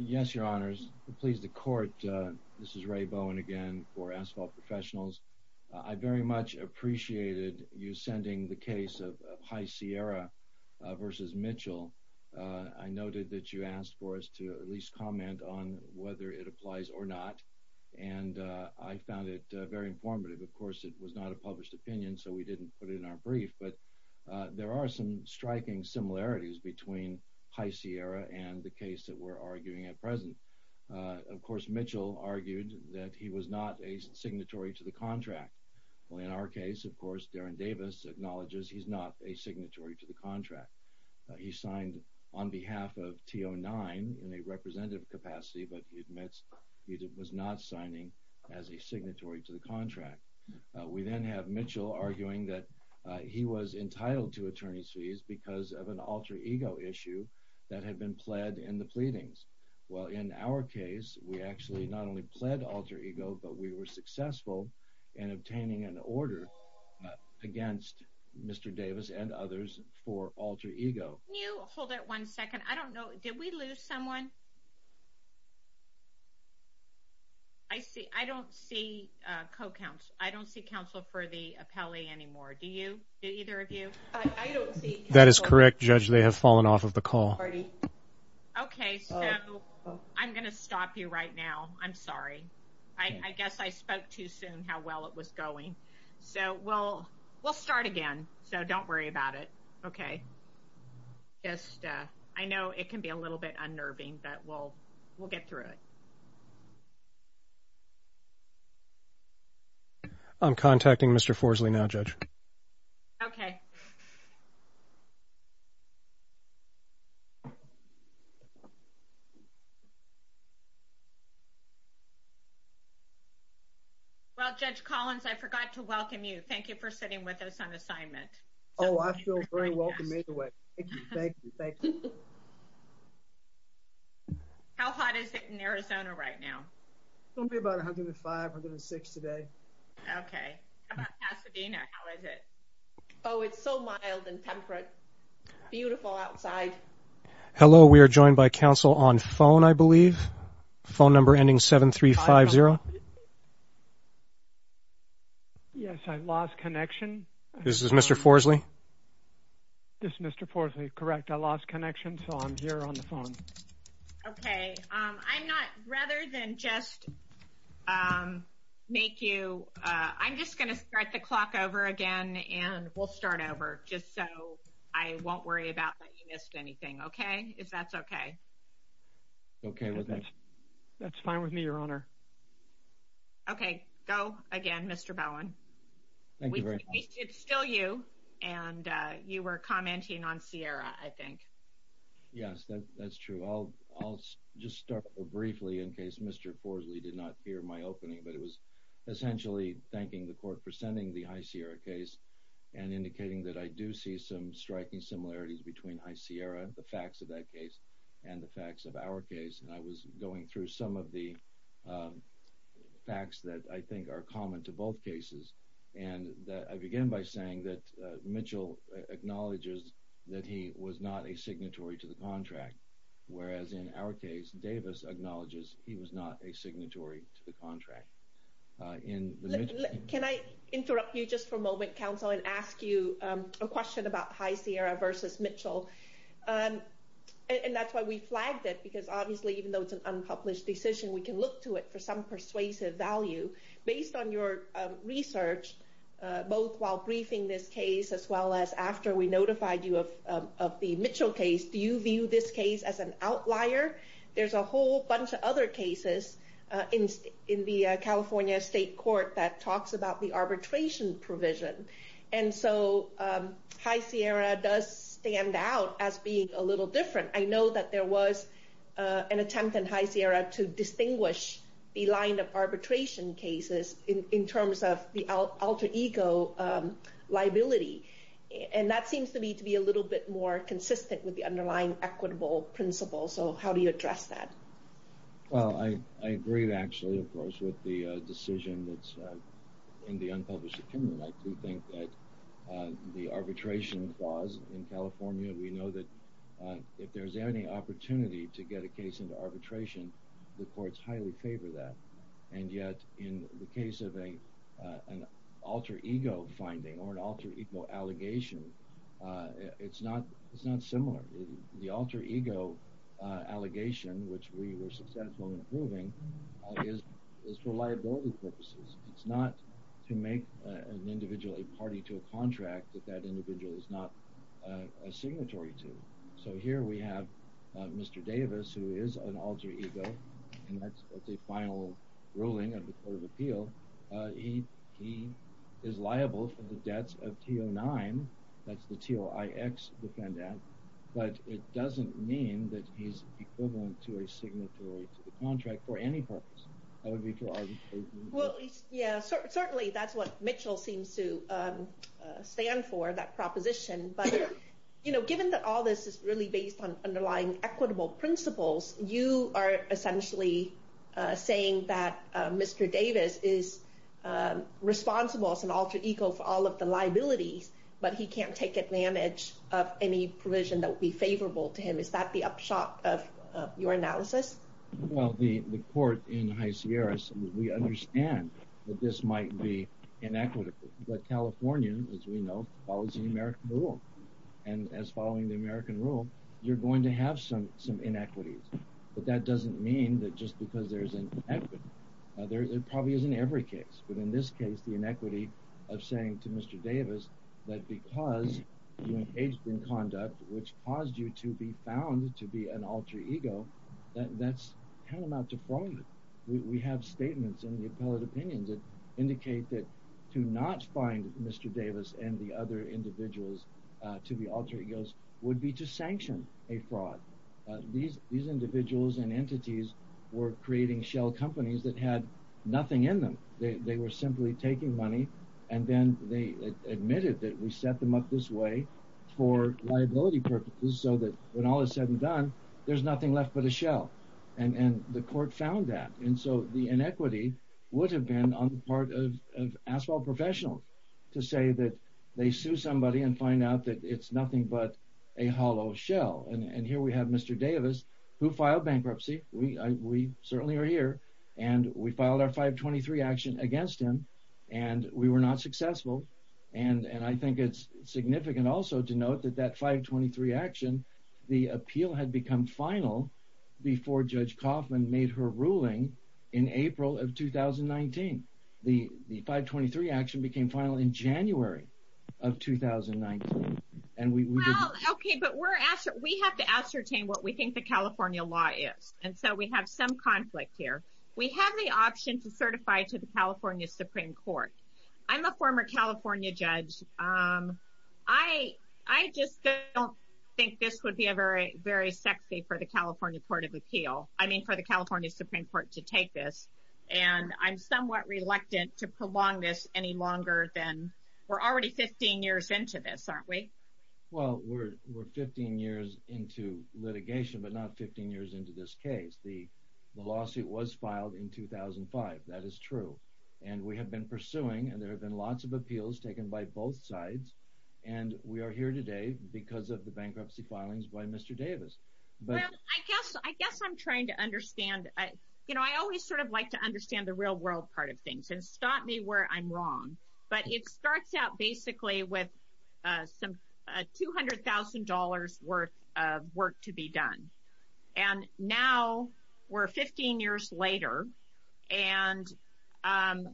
Yes, Your Honors. To please the Court, this is Ray Bowen again for Asphalt Professionals. I very much appreciated you sending the case of High Sierra v. Mitchell. I noted that you asked for us to at least comment on whether it applies or not, and I found it very informative. Of course, it was not a published opinion, so we didn't put it in our brief, but there are some striking similarities between High Sierra and the case that we're arguing at present. Of course, Mitchell argued that he was not a signatory to the contract. In our case, of course, Darin Davis acknowledges he's not a signatory to the contract. He signed on behalf of T09 in a representative capacity, but he admits he was not signing as a signatory to the contract. We then have Mitchell arguing that he was entitled to attorney's fees because of an alter ego issue that had been pled in the pleadings. Well, in our case, we actually not only pled alter ego, but we were successful in obtaining an order against Mr. Davis and others for alter ego. Can you hold it one second? I don't know. Did we lose someone? I see. I don't see co-counsel. I don't see counsel for the appellee anymore. Do you? Do either of you? I don't see counsel. That is correct, Judge. They have fallen off of the call. Okay, so I'm going to stop you right now. I'm sorry. I guess I spoke too soon how well it was going. So well, we'll start again. So don't worry about it. Okay. Yes, I know it can be a little bit unnerving, but we'll, we'll get through it. I'm contacting Mr. Forsley now, Judge. Okay. Well, Judge Collins, I forgot to welcome you. Thank you for sitting with us on assignment. Oh, I feel very welcome either way. Thank you. Thank you. Thank you. How hot is it in Arizona right now? It's going to be about 105, 106 today. Okay. How about Pasadena? How is it? Oh, it's so mild and temperate. Beautiful outside. Hello. We are joined by counsel on phone, I believe. Phone number ending 7-3-5-0. Yes, I lost connection. This is Mr. Forsley. This is Mr. Forsley. Correct. I lost connection. So I'm here on the phone. Okay. I'm not rather than just make you. I'm just going to start the clock over again. And we'll start over just so I won't worry about that. You missed anything. Okay. If that's okay. Okay. That's fine with me, Your Honor. Okay. Go again, Mr. Bowen. Thank you very much. It's still you and you were commenting on Sierra, I think. Yes, that's true. I'll just start briefly in case Mr. Forsley did not hear my opening, but it was essentially thanking the court for sending the High Sierra case and indicating that I do see some striking similarities between High Sierra, the facts of that case and the facts of our case. And I was going through some of the facts that I think are common to both cases. And I begin by saying that Mitchell acknowledges that he was not a signatory to the contract, whereas in our case, Davis acknowledges he was not a signatory to the contract. Can I interrupt you just for a moment, counsel, and ask you a question about High Sierra versus Mitchell? And that's why we flagged it, because obviously, even though it's an unpublished decision, we can look to it for some persuasive value based on your research, both while briefing this case as well as after we notified you of the Mitchell case. Do you view this case as an outlier? There's a whole bunch of other cases in the California state court that talks about the arbitration provision. And so High Sierra does stand out as being a little different. I know that there was an attempt in High Sierra to distinguish the line of arbitration cases in terms of the alter ego liability. And that seems to me to be a little bit more consistent with the underlying equitable principle. So how do you address that? Well, I agree, actually, of course, with the decision that's in the unpublished opinion. I do think that the arbitration clause in California, we know that if there's any opportunity to get a case into arbitration, the courts highly favor that. And yet, in the case of an alter ego finding or an alter ego allegation, it's not similar. The alter ego allegation, which we were successful in proving, is for liability purposes. It's not to make an individual a party to a contract that that individual is not a signatory to. So here we have Mr. Davis, who is an alter ego. And that's the final ruling of the Court of Appeal. He is liable for the debts of T09. That's the TOIX Defendant. But it doesn't mean that he's equivalent to a signatory to the contract for any purpose. Well, yeah, certainly that's what Mitchell seems to stand for, that proposition. But given that all this is really based on underlying equitable principles, you are essentially saying that Mr. Davis is responsible as an alter ego for all of the liabilities, but he can't take advantage of any provision that would be favorable to him. Is that the upshot of your analysis? Well, the court in High Sierra, we understand that this might be inequitable. But California, as we know, follows the American rule. And as following the American rule, you're going to have some inequities. But that doesn't mean that just because there's an inequity, it probably isn't every case. But in this case, the inequity of saying to Mr. Davis that because you engaged in conduct which caused you to be found to be an alter ego, that's paramount to fraud. We have statements in the appellate opinions that indicate that to not find Mr. Davis and the other individuals to be alter egos would be to sanction a fraud. These individuals and entities were creating shell companies that had nothing in them. They were simply taking money, and then they admitted that we set them up this way for liability purposes so that when all is said and done, there's nothing left but a shell. And the court found that. And so the inequity would have been on the part of asphalt professionals to say that they sue somebody and find out that it's nothing but a hollow shell. And here we have Mr. Davis, who filed bankruptcy. We certainly are here. And we filed our 523 action against him, and we were not successful. And I think it's significant also to note that that 523 action, the appeal had become final before Judge Kaufman made her ruling in April of 2019. The 523 action became final in January of 2019. Well, okay, but we have to ascertain what we think the California law is. And so we have some conflict here. We have the option to certify to the California Supreme Court. I'm a former California judge. I just don't think this would be very sexy for the California Court of Appeal. I mean, for the California Supreme Court to take this. And I'm somewhat reluctant to prolong this any longer than... We're already 15 years into this, aren't we? Well, we're 15 years into litigation, but not 15 years into this case. The lawsuit was filed in 2005. That is true. It's ongoing, and there have been lots of appeals taken by both sides. And we are here today because of the bankruptcy filings by Mr. Davis. Well, I guess I'm trying to understand. You know, I always sort of like to understand the real world part of things and stop me where I'm wrong. But it starts out basically with some $200,000 worth of work to be done. And now we're 15 years later. And by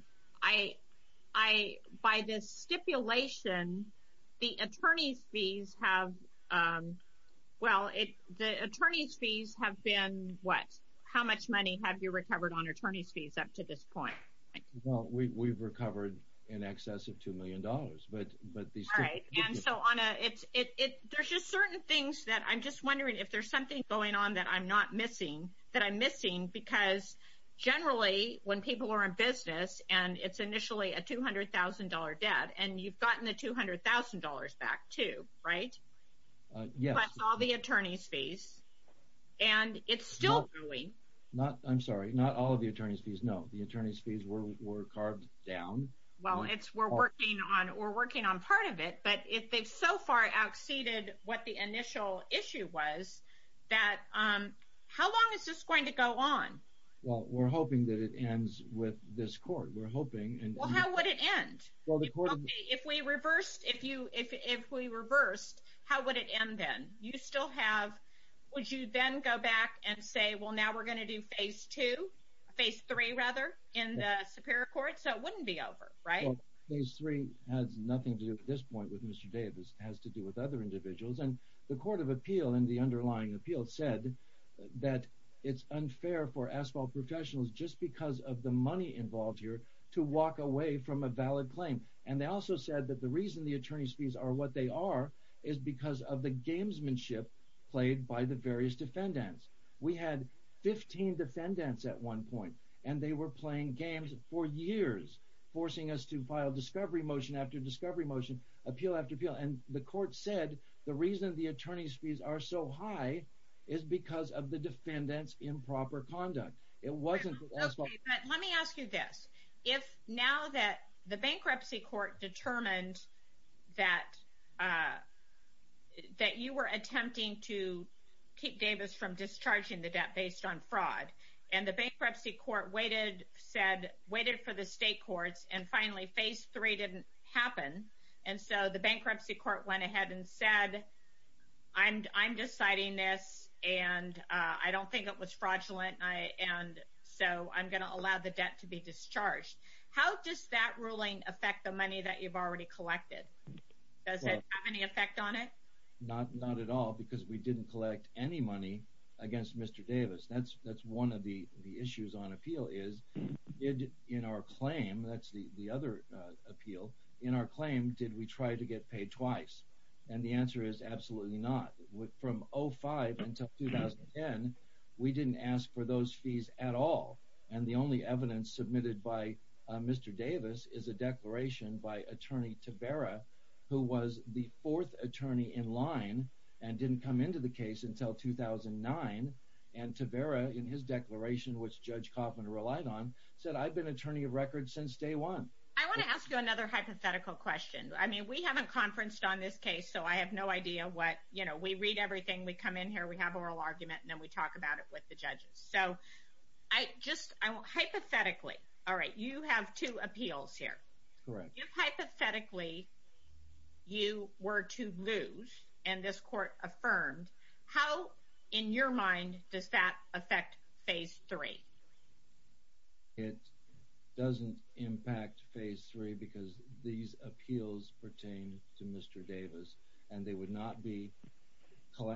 this stipulation, the attorney's fees have been what? How much money have you recovered on attorney's fees up to this point? Well, we've recovered in excess of $2 million. All right. There's just certain things that I'm just wondering if there's something going on that I'm not missing, that I'm missing because generally when people are in business and it's initially a $200,000 debt and you've gotten the $200,000 back too, right? Yes. Plus all the attorney's fees. And it's still going. I'm sorry, not all of the attorney's fees. No, the attorney's fees were carved down. Well, we're working on part of it. But if they've so far outseeded what the initial issue was, how long is this going to go on? Well, we're hoping that it ends with this court. Well, how would it end? If we reversed, how would it end then? Would you then go back and say, well, now we're going to do phase two, phase three rather in the superior court so it wouldn't be over, right? Well, phase three has nothing to do at this point with Mr. Davis. It has to do with other individuals. And the court of appeal in the underlying appeal said that it's unfair for asphalt professionals just because of the money involved here to walk away from a valid claim. And they also said that the reason the attorney's fees are what they are is because of the gamesmanship played by the various defendants. We had 15 defendants at one point. And they were playing games for years, forcing us to file discovery motion after discovery motion, appeal after appeal. And the court said the reason the attorney's fees are so high is because of the defendants' improper conduct. Let me ask you this. If now that the bankruptcy court determined that you were attempting to keep Davis from discharging the debt based on fraud, and the bankruptcy court waited for the state courts, and finally phase three didn't happen, and so the bankruptcy court went ahead and said, I'm deciding this, and I don't think it was fraudulent, and so I'm going to allow the debt to be discharged. How does that ruling affect the money that you've already collected? Does it have any effect on it? Not at all because we didn't collect any money against Mr. Davis. That's one of the issues on appeal is, in our claim, that's the other appeal, in our claim, did we try to get paid twice? And the answer is absolutely not. From 05 until 2010, we didn't ask for those fees at all. And the only evidence submitted by Mr. Davis is a declaration by Attorney Tavara, who was the fourth attorney in line and didn't come into the case until 2009. And Tavara, in his declaration, which Judge Kaufman relied on, said, I've been attorney of record since day one. I want to ask you another hypothetical question. I mean, we haven't conferenced on this case, so I have no idea what, you know, we read everything, we come in here, we have an oral argument, and then we talk about it with the judges. So, hypothetically, all right, you have two appeals here. Correct. If hypothetically, you were to lose, and this court affirmed, how, in your mind, does that affect Phase 3? It doesn't impact Phase 3 because these appeals pertain to Mr. Davis, and they would not be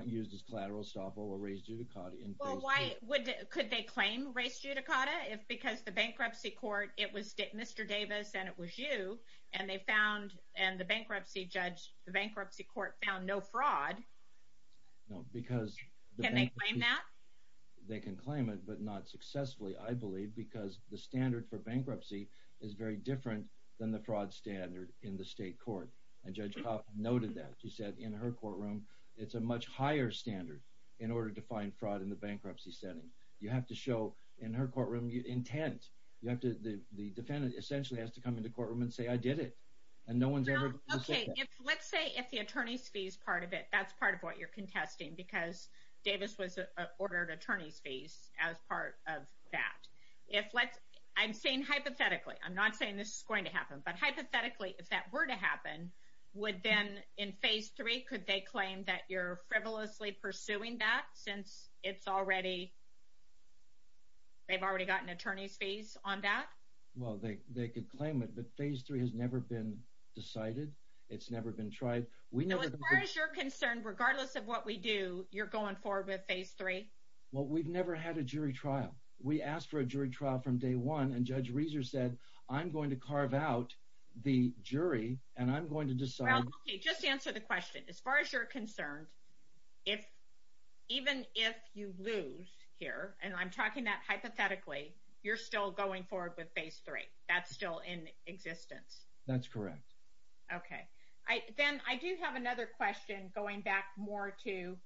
used as collateral to stop over race judicata in Phase 3. Well, could they claim race judicata? Because the bankruptcy court, it was Mr. Davis and it was you, and the bankruptcy court found no fraud. No, because... Can they claim that? They can claim it, but not successfully, I believe, because the standard for bankruptcy is very different than the fraud standard in the state court. And Judge Kaufman noted that. She said, in her courtroom, it's a much higher standard in order to find fraud in the bankruptcy setting. You have to show, in her courtroom, intent. The defendant essentially has to come into the courtroom and say, I did it. And no one's ever... Okay, let's say if the attorney's fees part of it, that's part of what you're contesting because Davis was ordered attorney's fees as part of that. I'm saying hypothetically. I'm not saying this is going to happen, but hypothetically, if that were to happen, would then, in Phase 3, could they claim that you're frivolously pursuing that since it's already... They've already gotten attorney's fees on that? Well, they could claim it, but Phase 3 has never been decided. It's never been tried. No, as far as you're concerned, regardless of what we do, you're going forward with Phase 3? Well, we've never had a jury trial. We asked for a jury trial from day one, and Judge Rieser said, I'm going to carve out the jury, and I'm going to decide... Well, okay, just answer the question. As far as you're concerned, even if you lose here, and I'm talking that hypothetically, you're still going forward with Phase 3. That's correct. Okay. Then I do have another question going back more to,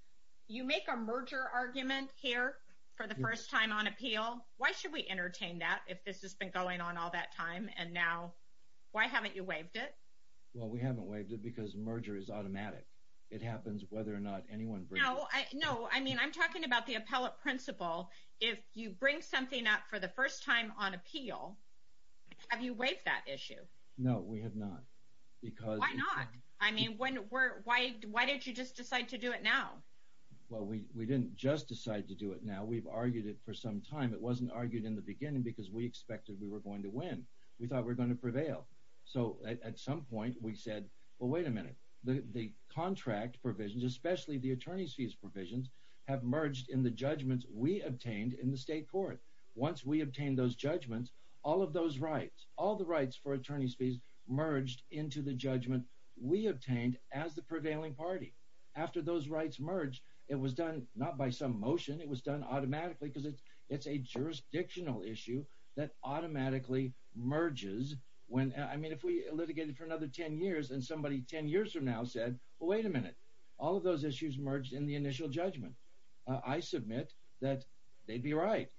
you make a merger argument here for the first time on appeal. Why should we entertain that if this has been going on all that time, and now, why haven't you waived it? Well, we haven't waived it because merger is automatic. It happens whether or not anyone brings... No, I mean, I'm talking about the appellate principle. If you bring something up for the first time on appeal, why haven't you? No, we have not. Why not? Why didn't you just decide to do it now? Well, we didn't just decide to do it now. We've argued it for some time. It wasn't argued in the beginning because we expected we were going to win. We thought we were going to prevail. At some point, we said, well, wait a minute. The contract provisions, especially the attorney's fees provisions, have merged in the judgments we obtained in the state court. The attorney's fees merged into the judgment we obtained as the prevailing party. After those rights merged, it was done not by some motion. It was done automatically because it's a jurisdictional issue that automatically merges when... I mean, if we litigated for another 10 years and somebody 10 years from now said, well, wait a minute. All of those issues merged in the initial judgment. I submit that they'd be right.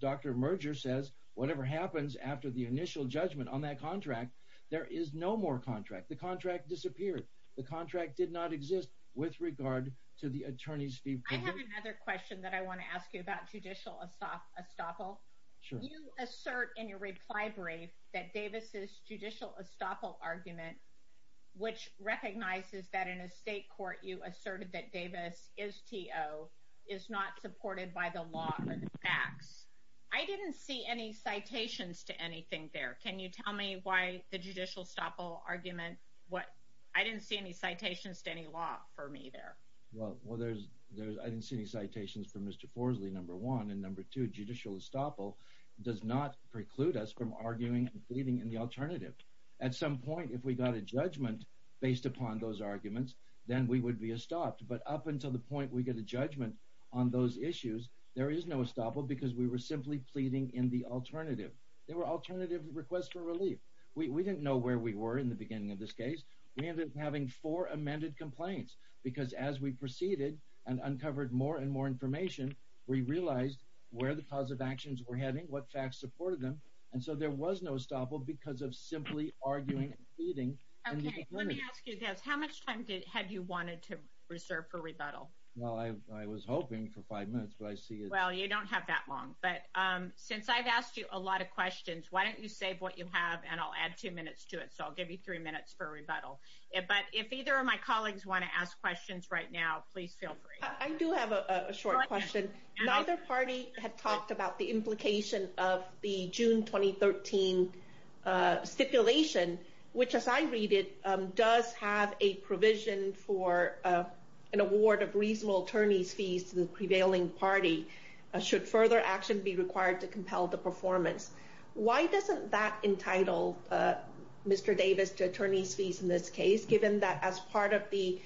Dr. Merger says whatever happens after the initial judgment on that contract, there is no more contract. The contract disappeared. The contract did not exist with regard to the attorney's fees provision. I have another question that I want to ask you about judicial estoppel. You assert in your reply brief that Davis's judicial estoppel argument, which recognizes that in a state court, you asserted that Davis is T.O., is not supported by the law or the facts. I didn't see any citations to anything there. Tell me why the judicial estoppel argument... I didn't see any citations to any law for me there. Well, I didn't see any citations from Mr. Forsley, number one. And number two, judicial estoppel does not preclude us from arguing and pleading in the alternative. At some point, if we got a judgment based upon those arguments, then we would be estopped. But up until the point we get a judgment on those issues, there is no estoppel because we were simply pleading in the alternative. They were alternative requests for relief. We didn't know where we were in the beginning of this case. We ended up having four amended complaints because as we proceeded and uncovered more and more information, we realized where the cause of actions were heading, what facts supported them. And so there was no estoppel because of simply arguing and pleading. Okay, let me ask you this. How much time have you wanted to reserve for rebuttal? Well, I was hoping for five minutes, but I see... Well, you don't have that long. But since I've asked you a lot of questions, why don't you save what you have and I'll add two minutes to it. So I'll give you three minutes for rebuttal. But if either of my colleagues want to ask questions right now, please feel free. I do have a short question. Neither party had talked about the implication of the June 2013 stipulation, which as I read it, does have a provision for an award of reasonable attorney's fees to the prevailing party. Should further action be required to compel the performance? Why doesn't that entitle Mr. Davis to attorney's fees in this case, given that as part of the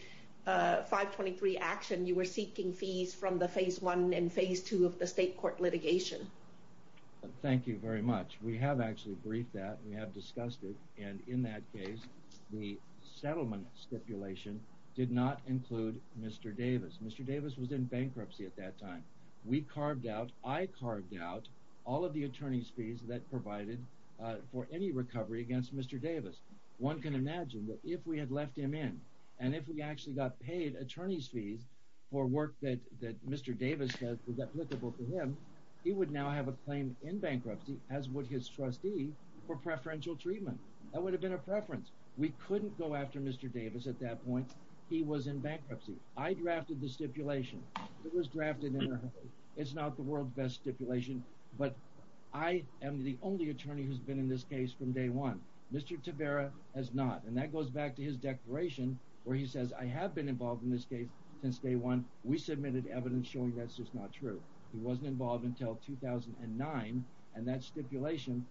523 action, you were seeking fees from the phase one and phase two of the state court litigation? Thank you very much. We have actually briefed that. We have discussed it. And in that case, the settlement stipulation did not include Mr. Davis. We carved out, I carved out, all of the attorney's fees that provided for any recovery against Mr. Davis. One can imagine that if we had left him in, and if we actually got paid attorney's fees for work that Mr. Davis said was applicable to him, he would now have a claim in bankruptcy, as would his trustee, for preferential treatment. We couldn't go after Mr. Davis at that point. He was in bankruptcy. I drafted the stipulation. It was drafted in a hurry. It's not the world's best stipulation, but I am the only attorney who's been in this case from day one. Mr. Tavera has not. And that goes back to his declaration where he says, I have been involved in this case since day one. We submitted evidence showing that's just not true. He wasn't involved until 2009. And that stipulation,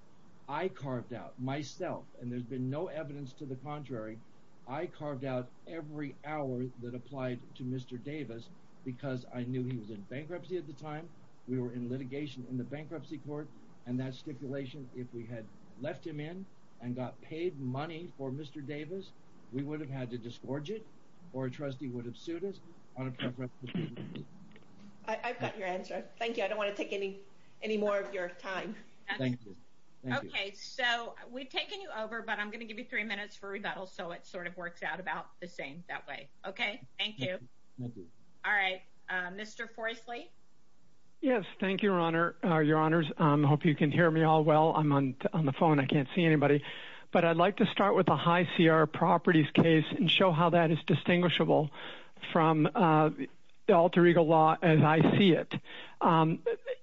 I carved out myself. And there's been no evidence to the contrary. I carved out every hour that applied to Mr. Davis because I knew he was in bankruptcy at the time. We were in litigation in the bankruptcy court. And that stipulation, if we had left him in and got paid money for Mr. Davis, we would have had to disgorge it or a trustee would have sued us on a preferential treatment. I've got your answer. Thank you. I don't want to take any more of your time. Thank you. Okay. So we've taken you over, but I'm going to give you three minutes for rebuttal so it sort of works out about the same that way. Okay. Thank you. All right. Mr. Forestly. Yes. Thank you, Your Honor. Your Honors. I hope you can hear me all well. I'm on the phone. I can't see anybody, but I'd like to start with a high CR properties case and show how that is distinguishable from the alter ego law as I see it.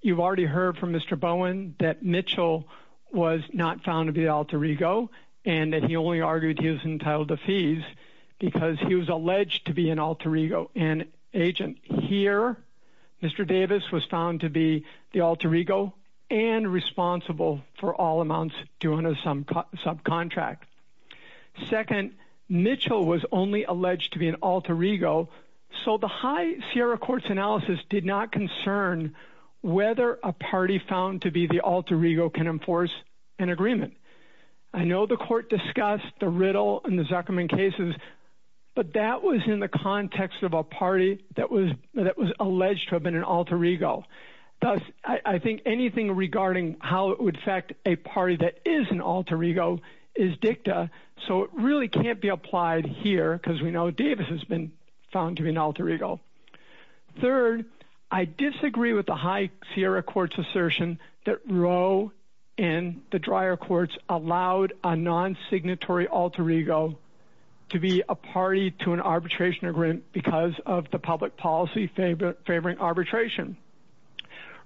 You've already heard from Mr. Bowen that Mitchell was not found to be alter ego and that he only argued he was entitled to fees because he was alleged to be an alter ego and agent. Here, Mr. Davis was found to be the alter ego and responsible for all amounts due under subcontract. Second, Mitchell was only alleged to be an alter ego, so the high CR courts analysis did not concern whether a party found to be the alter ego can enforce an agreement. I know the court discussed the riddle in the Zuckerman cases, but that was in the context of a party that was alleged to have been an alter ego. Thus, I think anything regarding how it would affect a party that is an alter ego is dicta, so it really can't be applied here because we know Davis has been found to be an alter ego. Third, I disagree with the high CR court's assertion that Roe and the Dreyer courts allowed a non-signatory alter ego to be a party to an arbitration agreement because of the public policy favoring arbitration.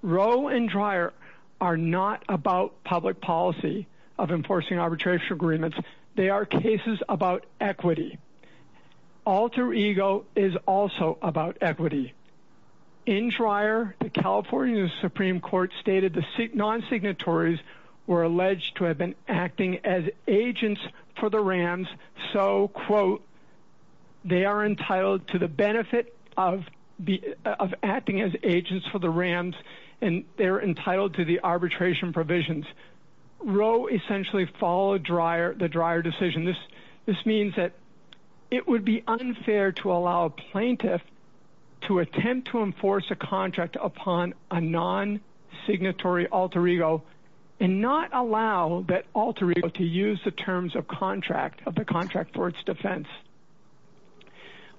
Roe and Dreyer are not about public policy of enforcing arbitration agreements. They are cases about equity. Alter ego is also about equity. In Dreyer, the California Supreme Court found that non-signatories were alleged to have been acting as agents for the Rams, so, quote, they are entitled to the benefit of acting as agents for the Rams, and they're entitled to the arbitration provisions. Roe essentially followed the Dreyer decision. This means that it would be unfair to allow a plaintiff to attempt to enforce a contract upon a non-signatory alter ego and not allow that alter ego to use the terms of contract, of the contract for its defense.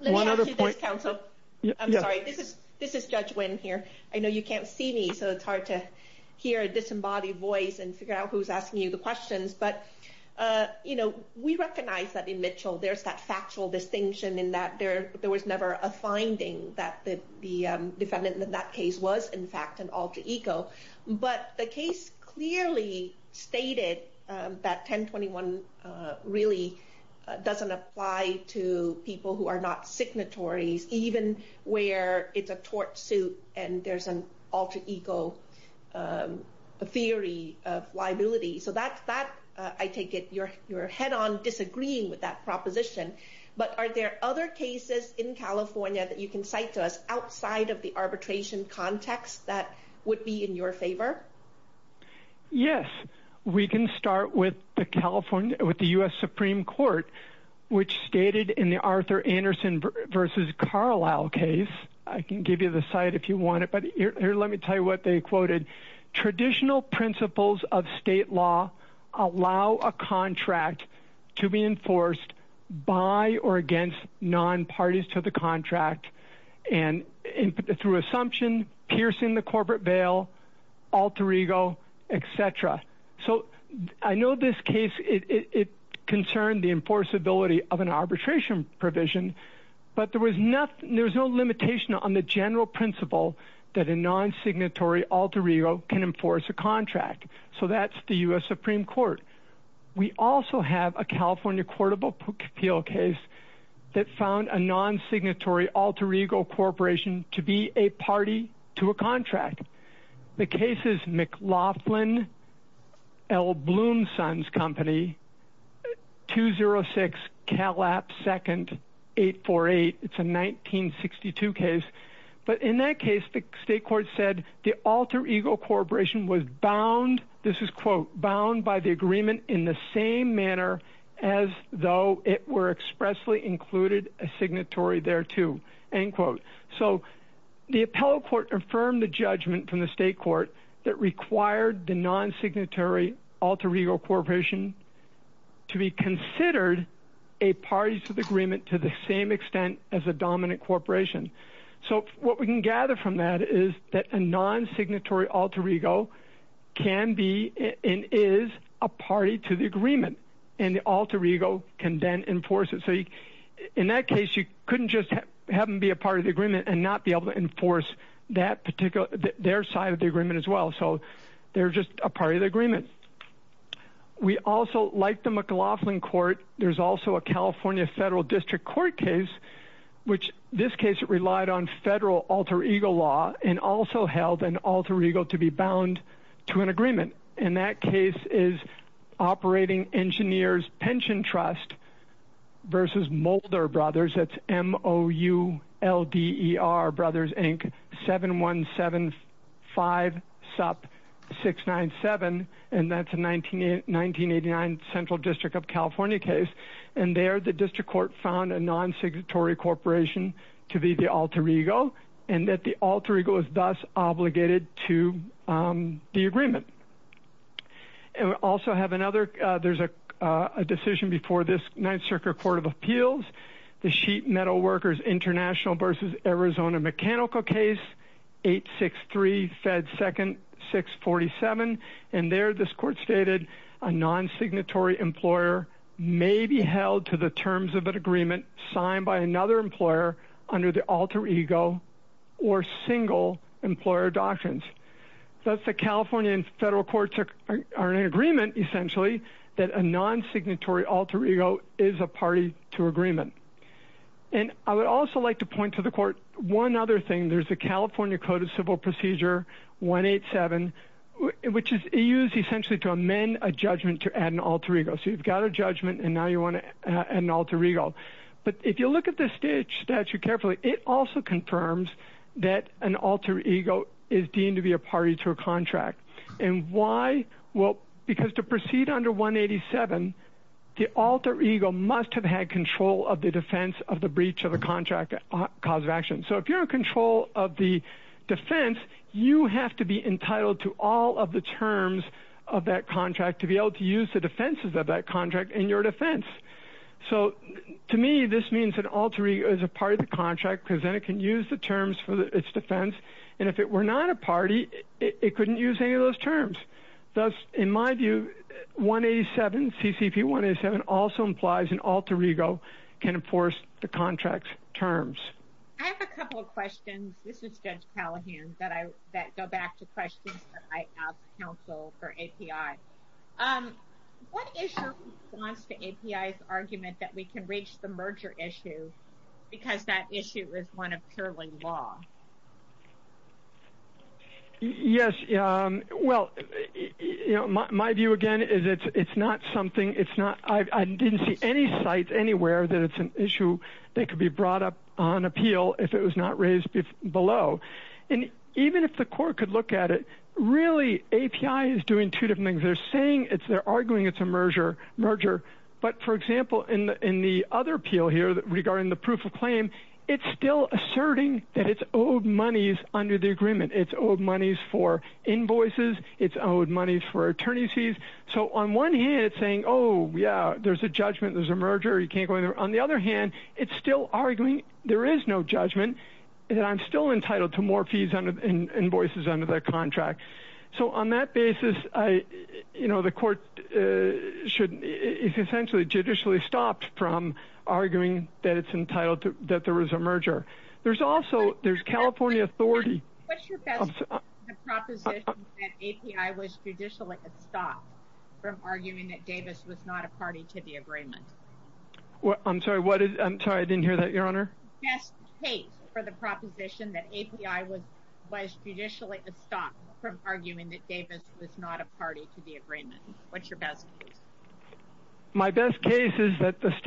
One other point... Let me add to this, counsel. I'm sorry. This is Judge Wynn here. I know you can't see me, so it's hard to hear a disembodied voice and figure out who's asking you the questions, but, you know, we recognize that in Mitchell there's that factual distinction in that there was never a finding that the defendant in that case was, in fact, an alter ego, but the case clearly stated that 1021 really doesn't apply to people who are not signatories, even where it's a tort suit and there's an alter ego theory of liability. So that, I take it, you're head-on disagreeing with that proposition, but are there other cases in California that you can cite to us outside of the arbitration context that would be in your favor? Yes. We can start with the California... with the U.S. Supreme Court, which stated in the Arthur Anderson v. Carlisle case... I can give you the site if you want it, but here, let me tell you what they quoted. Traditional principles of state law allow a contract to be enforced by or against non-parties to the contract through assumption, piercing the corporate veil, alter ego, etc. So I know this case, it concerned the enforceability of an arbitration provision, but there was no limitation on the general principle that a non-signatory alter ego can enforce a contract. So that's the U.S. Supreme Court. We also have a California courtable appeal case that found a non-signatory alter ego corporation to be a party to a contract. The case is McLaughlin L. Bloomson's Company, 206 Calap 2nd, 848. It's a 1962 case. But in that case, the state court said the alter ego corporation was bound, this is quote, bound by the agreement in the same manner as though it were expressly included a signatory thereto, end quote. So the appellate court affirmed the judgment from the state court that required the non-signatory alter ego corporation to be considered a party to the agreement to the same extent as a dominant corporation. So what we can gather from that is that a non-signatory alter ego can be and is a party to the agreement and the alter ego can then enforce it. So in that case, you couldn't just have them be a part of the agreement and not be able to enforce their side of the agreement as well. So they're just a part of the agreement. We also, like the McLaughlin court, there's also a California federal district court case which this case relied on federal alter ego law and also held an alter ego to be bound to an agreement. And that case is Operating Engineers Pension Trust versus Mulder Brothers. That's M-O-U-L-D-E-R Brothers, Inc. 7175-SUP-697. And that's a 1989 Central District of California case. And there, the district court found a non-signatory corporation to be the alter ego and that the alter ego is thus obligated to the agreement. And we also have another, there's a decision before this Ninth Circuit Court of Appeals, the Sheet Metal Workers International versus Arizona Mechanical case, 863-FED-2-647. And there, this court stated a non-signatory employer may be held to the terms of an agreement signed by another employer under the alter ego or single employer doctrines. Thus, the California and federal courts are in agreement, essentially, that a non-signatory alter ego is a party to agreement. And I would also like to point to the court one other thing. There's a California Code of Civil Procedure, 187, which is used, essentially, to amend a judgment to add an alter ego. So you've got a judgment and now you want to add an alter ego. But if you look at this statute carefully, it also confirms that an alter ego is deemed to be a party to a contract. And why? Well, because to proceed under 187, the alter ego must have had control of the defense of the breach of the contract cause of action. So if you're in control of the defense, you have to be entitled to all of the terms of that contract to be able to use the defenses of that contract in your defense. So, to me, this means an alter ego is a part of the contract because then it can use the terms for its defense. And if it were not a party, it couldn't use any of those terms. Thus, in my view, 187, CCP 187, also implies an alter ego can enforce the contract's terms. I have a couple of questions. This is Judge Callahan, that go back to questions that I ask counsel for API. What is your response to API's argument that we can reach the merger issue because that issue is one of purely law? Yes. Well, my view, again, is it's not something... I didn't see any site anywhere that it's an issue that could be brought up on appeal if it was not raised below. And even if the court could look at it, really, API is doing two different things. They're arguing it's a merger. But, for example, in the other appeal here regarding the proof of claim, it's still asserting that it's under the agreement. It's owed monies for invoices. It's owed monies for attorney's fees. So, on one hand, it's saying, oh, yeah, there's a judgment, there's a merger, you can't go in there. On the other hand, it's still arguing there is no judgment and I'm still entitled to more fees and invoices under the contract. So, on that basis, the court is essentially judicially stopped from arguing that it's entitled to more money. What's your best case for the proposition that API was judicially stopped from arguing that Davis was not a party to the agreement? I'm sorry. I didn't hear that, Your Honor. Best case for the proposition that API was judicially stopped from arguing that Davis was not a party to the agreement. What's your best case? My best case is that at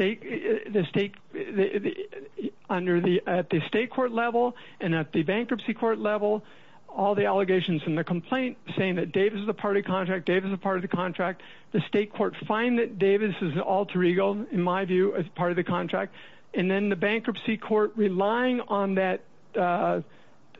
the state court level and at the bankruptcy court level, all the allegations in the complaint saying that Davis is a part of the contract, Davis is a part of the contract, the state court find that Davis is an alter ego, in my view, as part of the contract, and then the bankruptcy court relying on that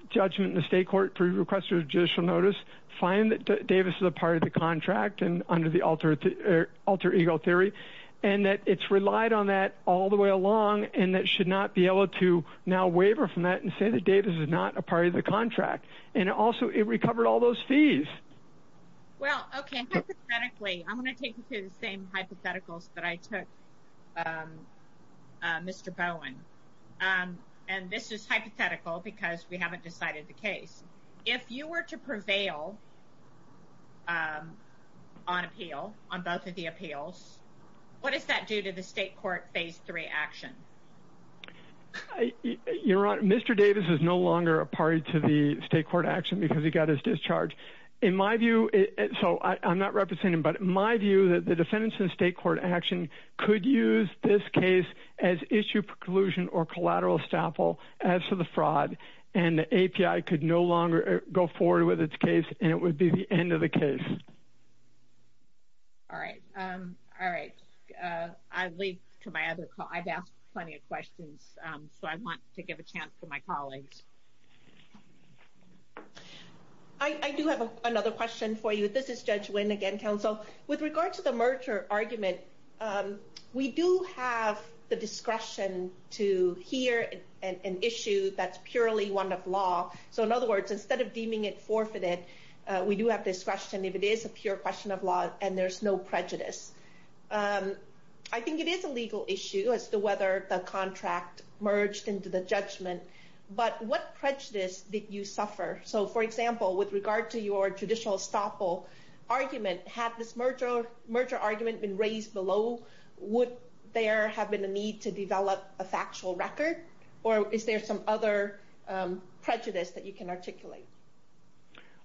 judgment in the state court for request of judicial notice find that Davis is a part of the contract under the alter ego theory and that it's relied on that all the way along and that it should not be able to argue that Davis is not a part of the contract and also it recovered all those fees. Well, okay. Hypothetically, I'm going to take you to the same hypotheticals that I took Mr. Bowen and this is hypothetical because we haven't decided the case. If you were to prevail on appeal, on both of the appeals, what does that do to the state court phase three action? You're right. Mr. Davis is no longer a party to the state court action because he got his discharge. In my view, so I'm not representing him, but my view that the defendants in state court action could use this case as issue preclusion or collateral estoppel as to the fraud and the API could no longer go forward with its case and it would be the end of the case. Thank you for your questions. So I want to give a chance to my colleagues. I do have another question for you. This is Judge Nguyen again, counsel. With regard to the merger argument, we do have the discretion to hear an issue that's purely one of law. So in other words, instead of deeming it forfeited, we do have discretion if it is a pure question of law and there's no prejudice. I think it is a legal issue that the contract merged into the judgment, but what prejudice did you suffer? So for example, with regard to your judicial estoppel argument, had this merger argument been raised below? Would there have been a need to develop a factual record or is there some other prejudice that you can articulate?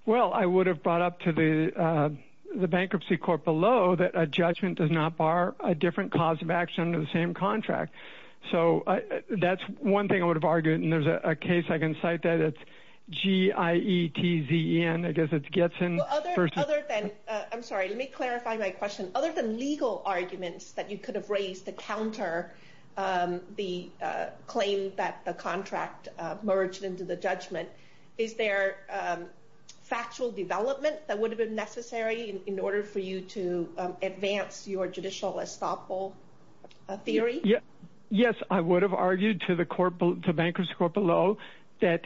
Well, I would have brought up to the bankruptcy court below that a judgment does not bar a different cause of action under the same contract. So that's one thing I would have argued, and there's a case I can cite there that's G-I-E-T-Z-E-N. I guess it gets in. I'm sorry. Let me clarify my question. Other than legal arguments that you could have raised to counter the claim that the contract merged into the judgment, is there factual development that would have been necessary in order for you to advance your judicial estoppel? A theory? Yes, I would have argued to the bankruptcy court below that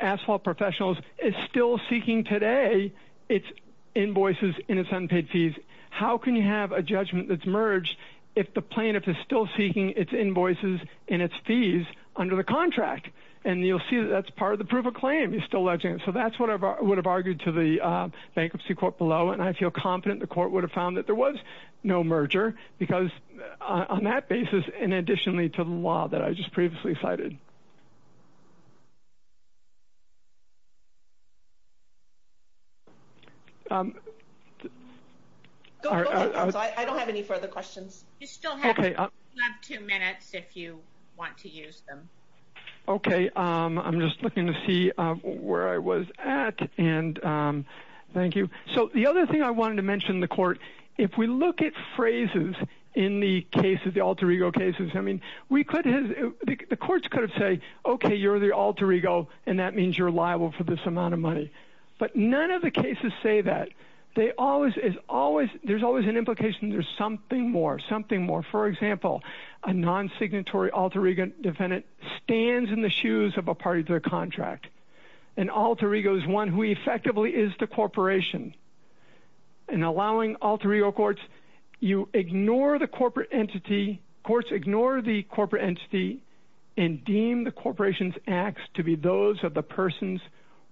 Asphalt Professionals is still seeking today its invoices and its unpaid fees. How can you have a judgment that's merged if the plaintiff is still seeking its invoices and its fees under the contract? And you'll see that's part of the proof of claim. You're still alleging it. So that's what I would have argued to the bankruptcy court below, and I feel confident the court would have found that there was no merger because on that basis and additionally to the law that I just previously cited. Go ahead. I don't have any further questions. You still have two minutes if you want to use them. Okay. I'm just looking to see where I was at, and thank you. So the other thing that I wanted to mention in the court, if we look at phrases in the alter ego cases, the courts could have said, okay, you're the alter ego, and that means you're liable for this amount of money. But none of the cases say that. There's always an implication there's something more, something more. For example, a non-signatory alter ego defendant stands in the shoes of a party to their contract. An alter ego is one who effectively is the corporation. In allowing alter ego courts, you ignore the corporate entity. Courts ignore the corporate entity and deem the corporation's acts to be those of the persons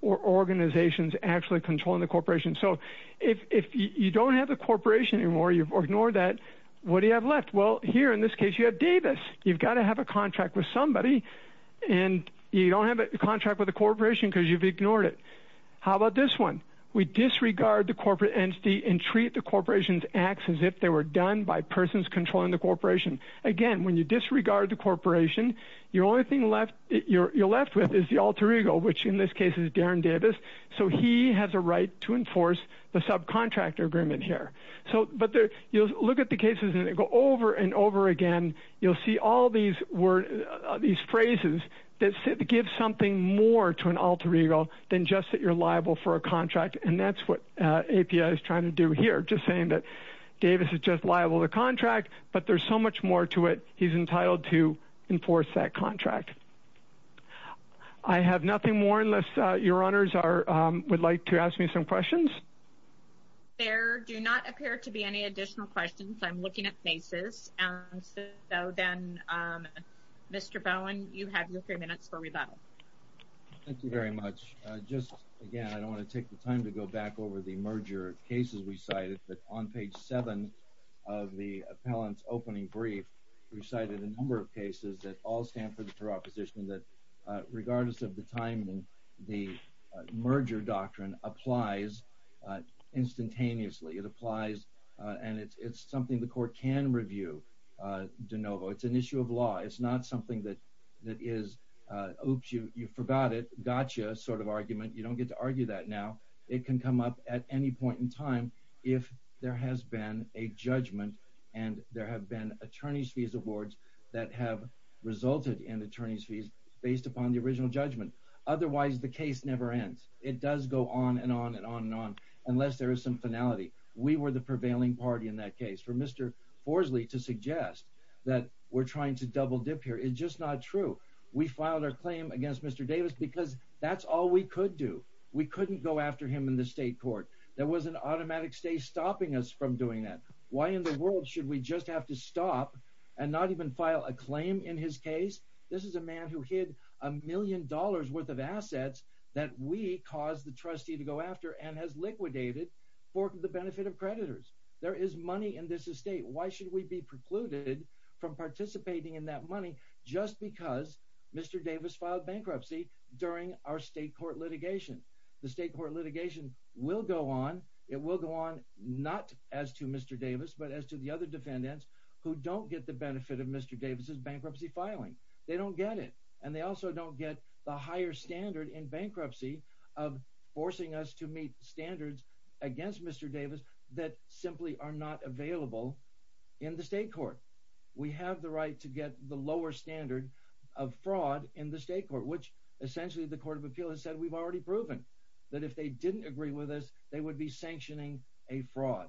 or organizations actually controlling the corporation. So if you don't have the corporation anymore, you've ignored that, what do you have left? Well, here in this case, you have Davis. You've got to have a contract with somebody, and you don't have a contract with the corporation because you've ignored it. How about this one? We disregard the corporate entity and treat the corporation's acts as if they were done by persons controlling the corporation. Again, when you disregard the corporation, the only thing you're left with is the alter ego, which in this case is Darren Davis. So he has a right to enforce the subcontractor agreement here. But you look at the cases and they go over and over again. You'll see all these phrases that give something more to an alter ego than just that you're liable for a contract, and that's what we're trying to do here, just saying that Davis is just liable to contract, but there's so much more to it, he's entitled to enforce that contract. I have nothing more unless your honors would like to ask me some questions. There do not appear to be any additional questions. I'm looking at faces. So then, Mr. Bowen, you have your three minutes for rebuttal. Thank you very much. Just again, I don't want to take the time to go back over the merger cases that we cited, but on page seven of the appellant's opening brief, we cited a number of cases that all stand for the proposition that regardless of the timing, the merger doctrine applies instantaneously. It applies, and it's something the court can review, de novo. It's an issue of law. It's not something that is, oops, you forgot it, gotcha sort of argument. You don't get to argue that now. It can come up at any point in time if there has been a judgment and there have been attorney's fees awards that have resulted in attorney's fees based upon the original judgment. Otherwise, the case never ends. It does go on and on and on and on unless there is some finality. We were the prevailing party in that case. For Mr. Forsley to suggest that we're trying to double dip here is just not true. We filed our claim against Mr. Davis because that's all we could do. We couldn't go after him in the state court. There was an automatic stay stopping us from doing that. Why in the world should we just have to stop and not even file a claim in his case? This is a man who hid a million dollars worth of assets that we caused the trustee to go after and has liquidated for the benefit of creditors. There is money in this estate. Why should we be precluded from participating in that money just because Mr. Davis filed bankruptcy during our state court litigation? The state court litigation will go on. It will go on not as to Mr. Davis but as to the other defendants who don't get the benefit of Mr. Davis's bankruptcy filing. They don't get it and they also don't get the higher standard in bankruptcy of forcing us to meet standards against Mr. Davis that simply are not available in the state court. We have the right to get the lower standard of fraud in the state court which essentially the court of appeal has said we've already proven that if they didn't agree with us they would be sanctioning a fraud.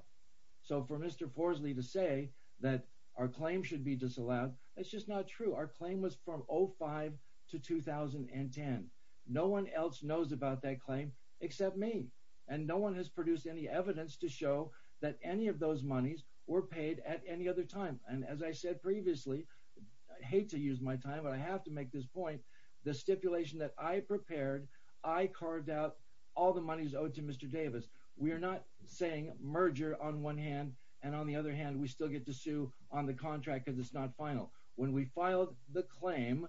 So for Mr. Porsley to say that our claim should be disallowed that's just not true. Our claim was from 05 to 2010. No one else knows about that claim except me and no one has produced any evidence to show that any of those monies were paid at any other time and as I said previously I hate to use my time but I have to make this point. The stipulation that I prepared I carved out all the monies owed to Mr. Davis. We are not saying merger on one hand and on the other hand we still get to sue on the contract because it's not final. When we filed the claim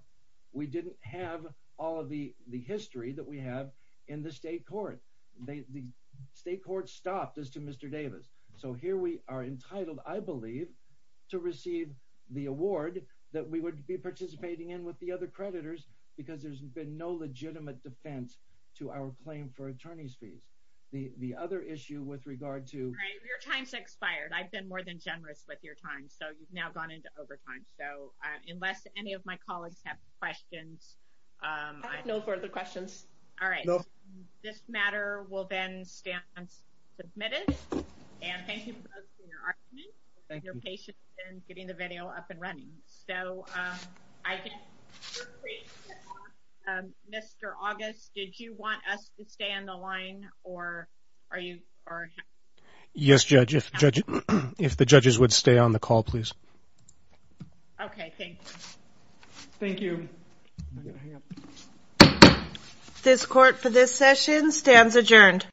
we didn't have all of the the history that we have in the state court. The state court stopped us to Mr. Davis. So here we are entitled I believe to receive the award that we would be participating in with the other creditors because there's been no legitimate defense to our claim for attorney's fees. The other issue with regard to your time's expired. I've been more than generous with your time so you've now gone into overtime. So unless any of my colleagues have questions no further questions. All right. This matter will then stand submitted and thank you for your argument and your patience in getting the video up and running. So I can Mr. August did you want us to stay on the line or are you or Yes judge if the judges would stay on the call please. Okay. Thank you. Thank you. This court for this session stands adjourned.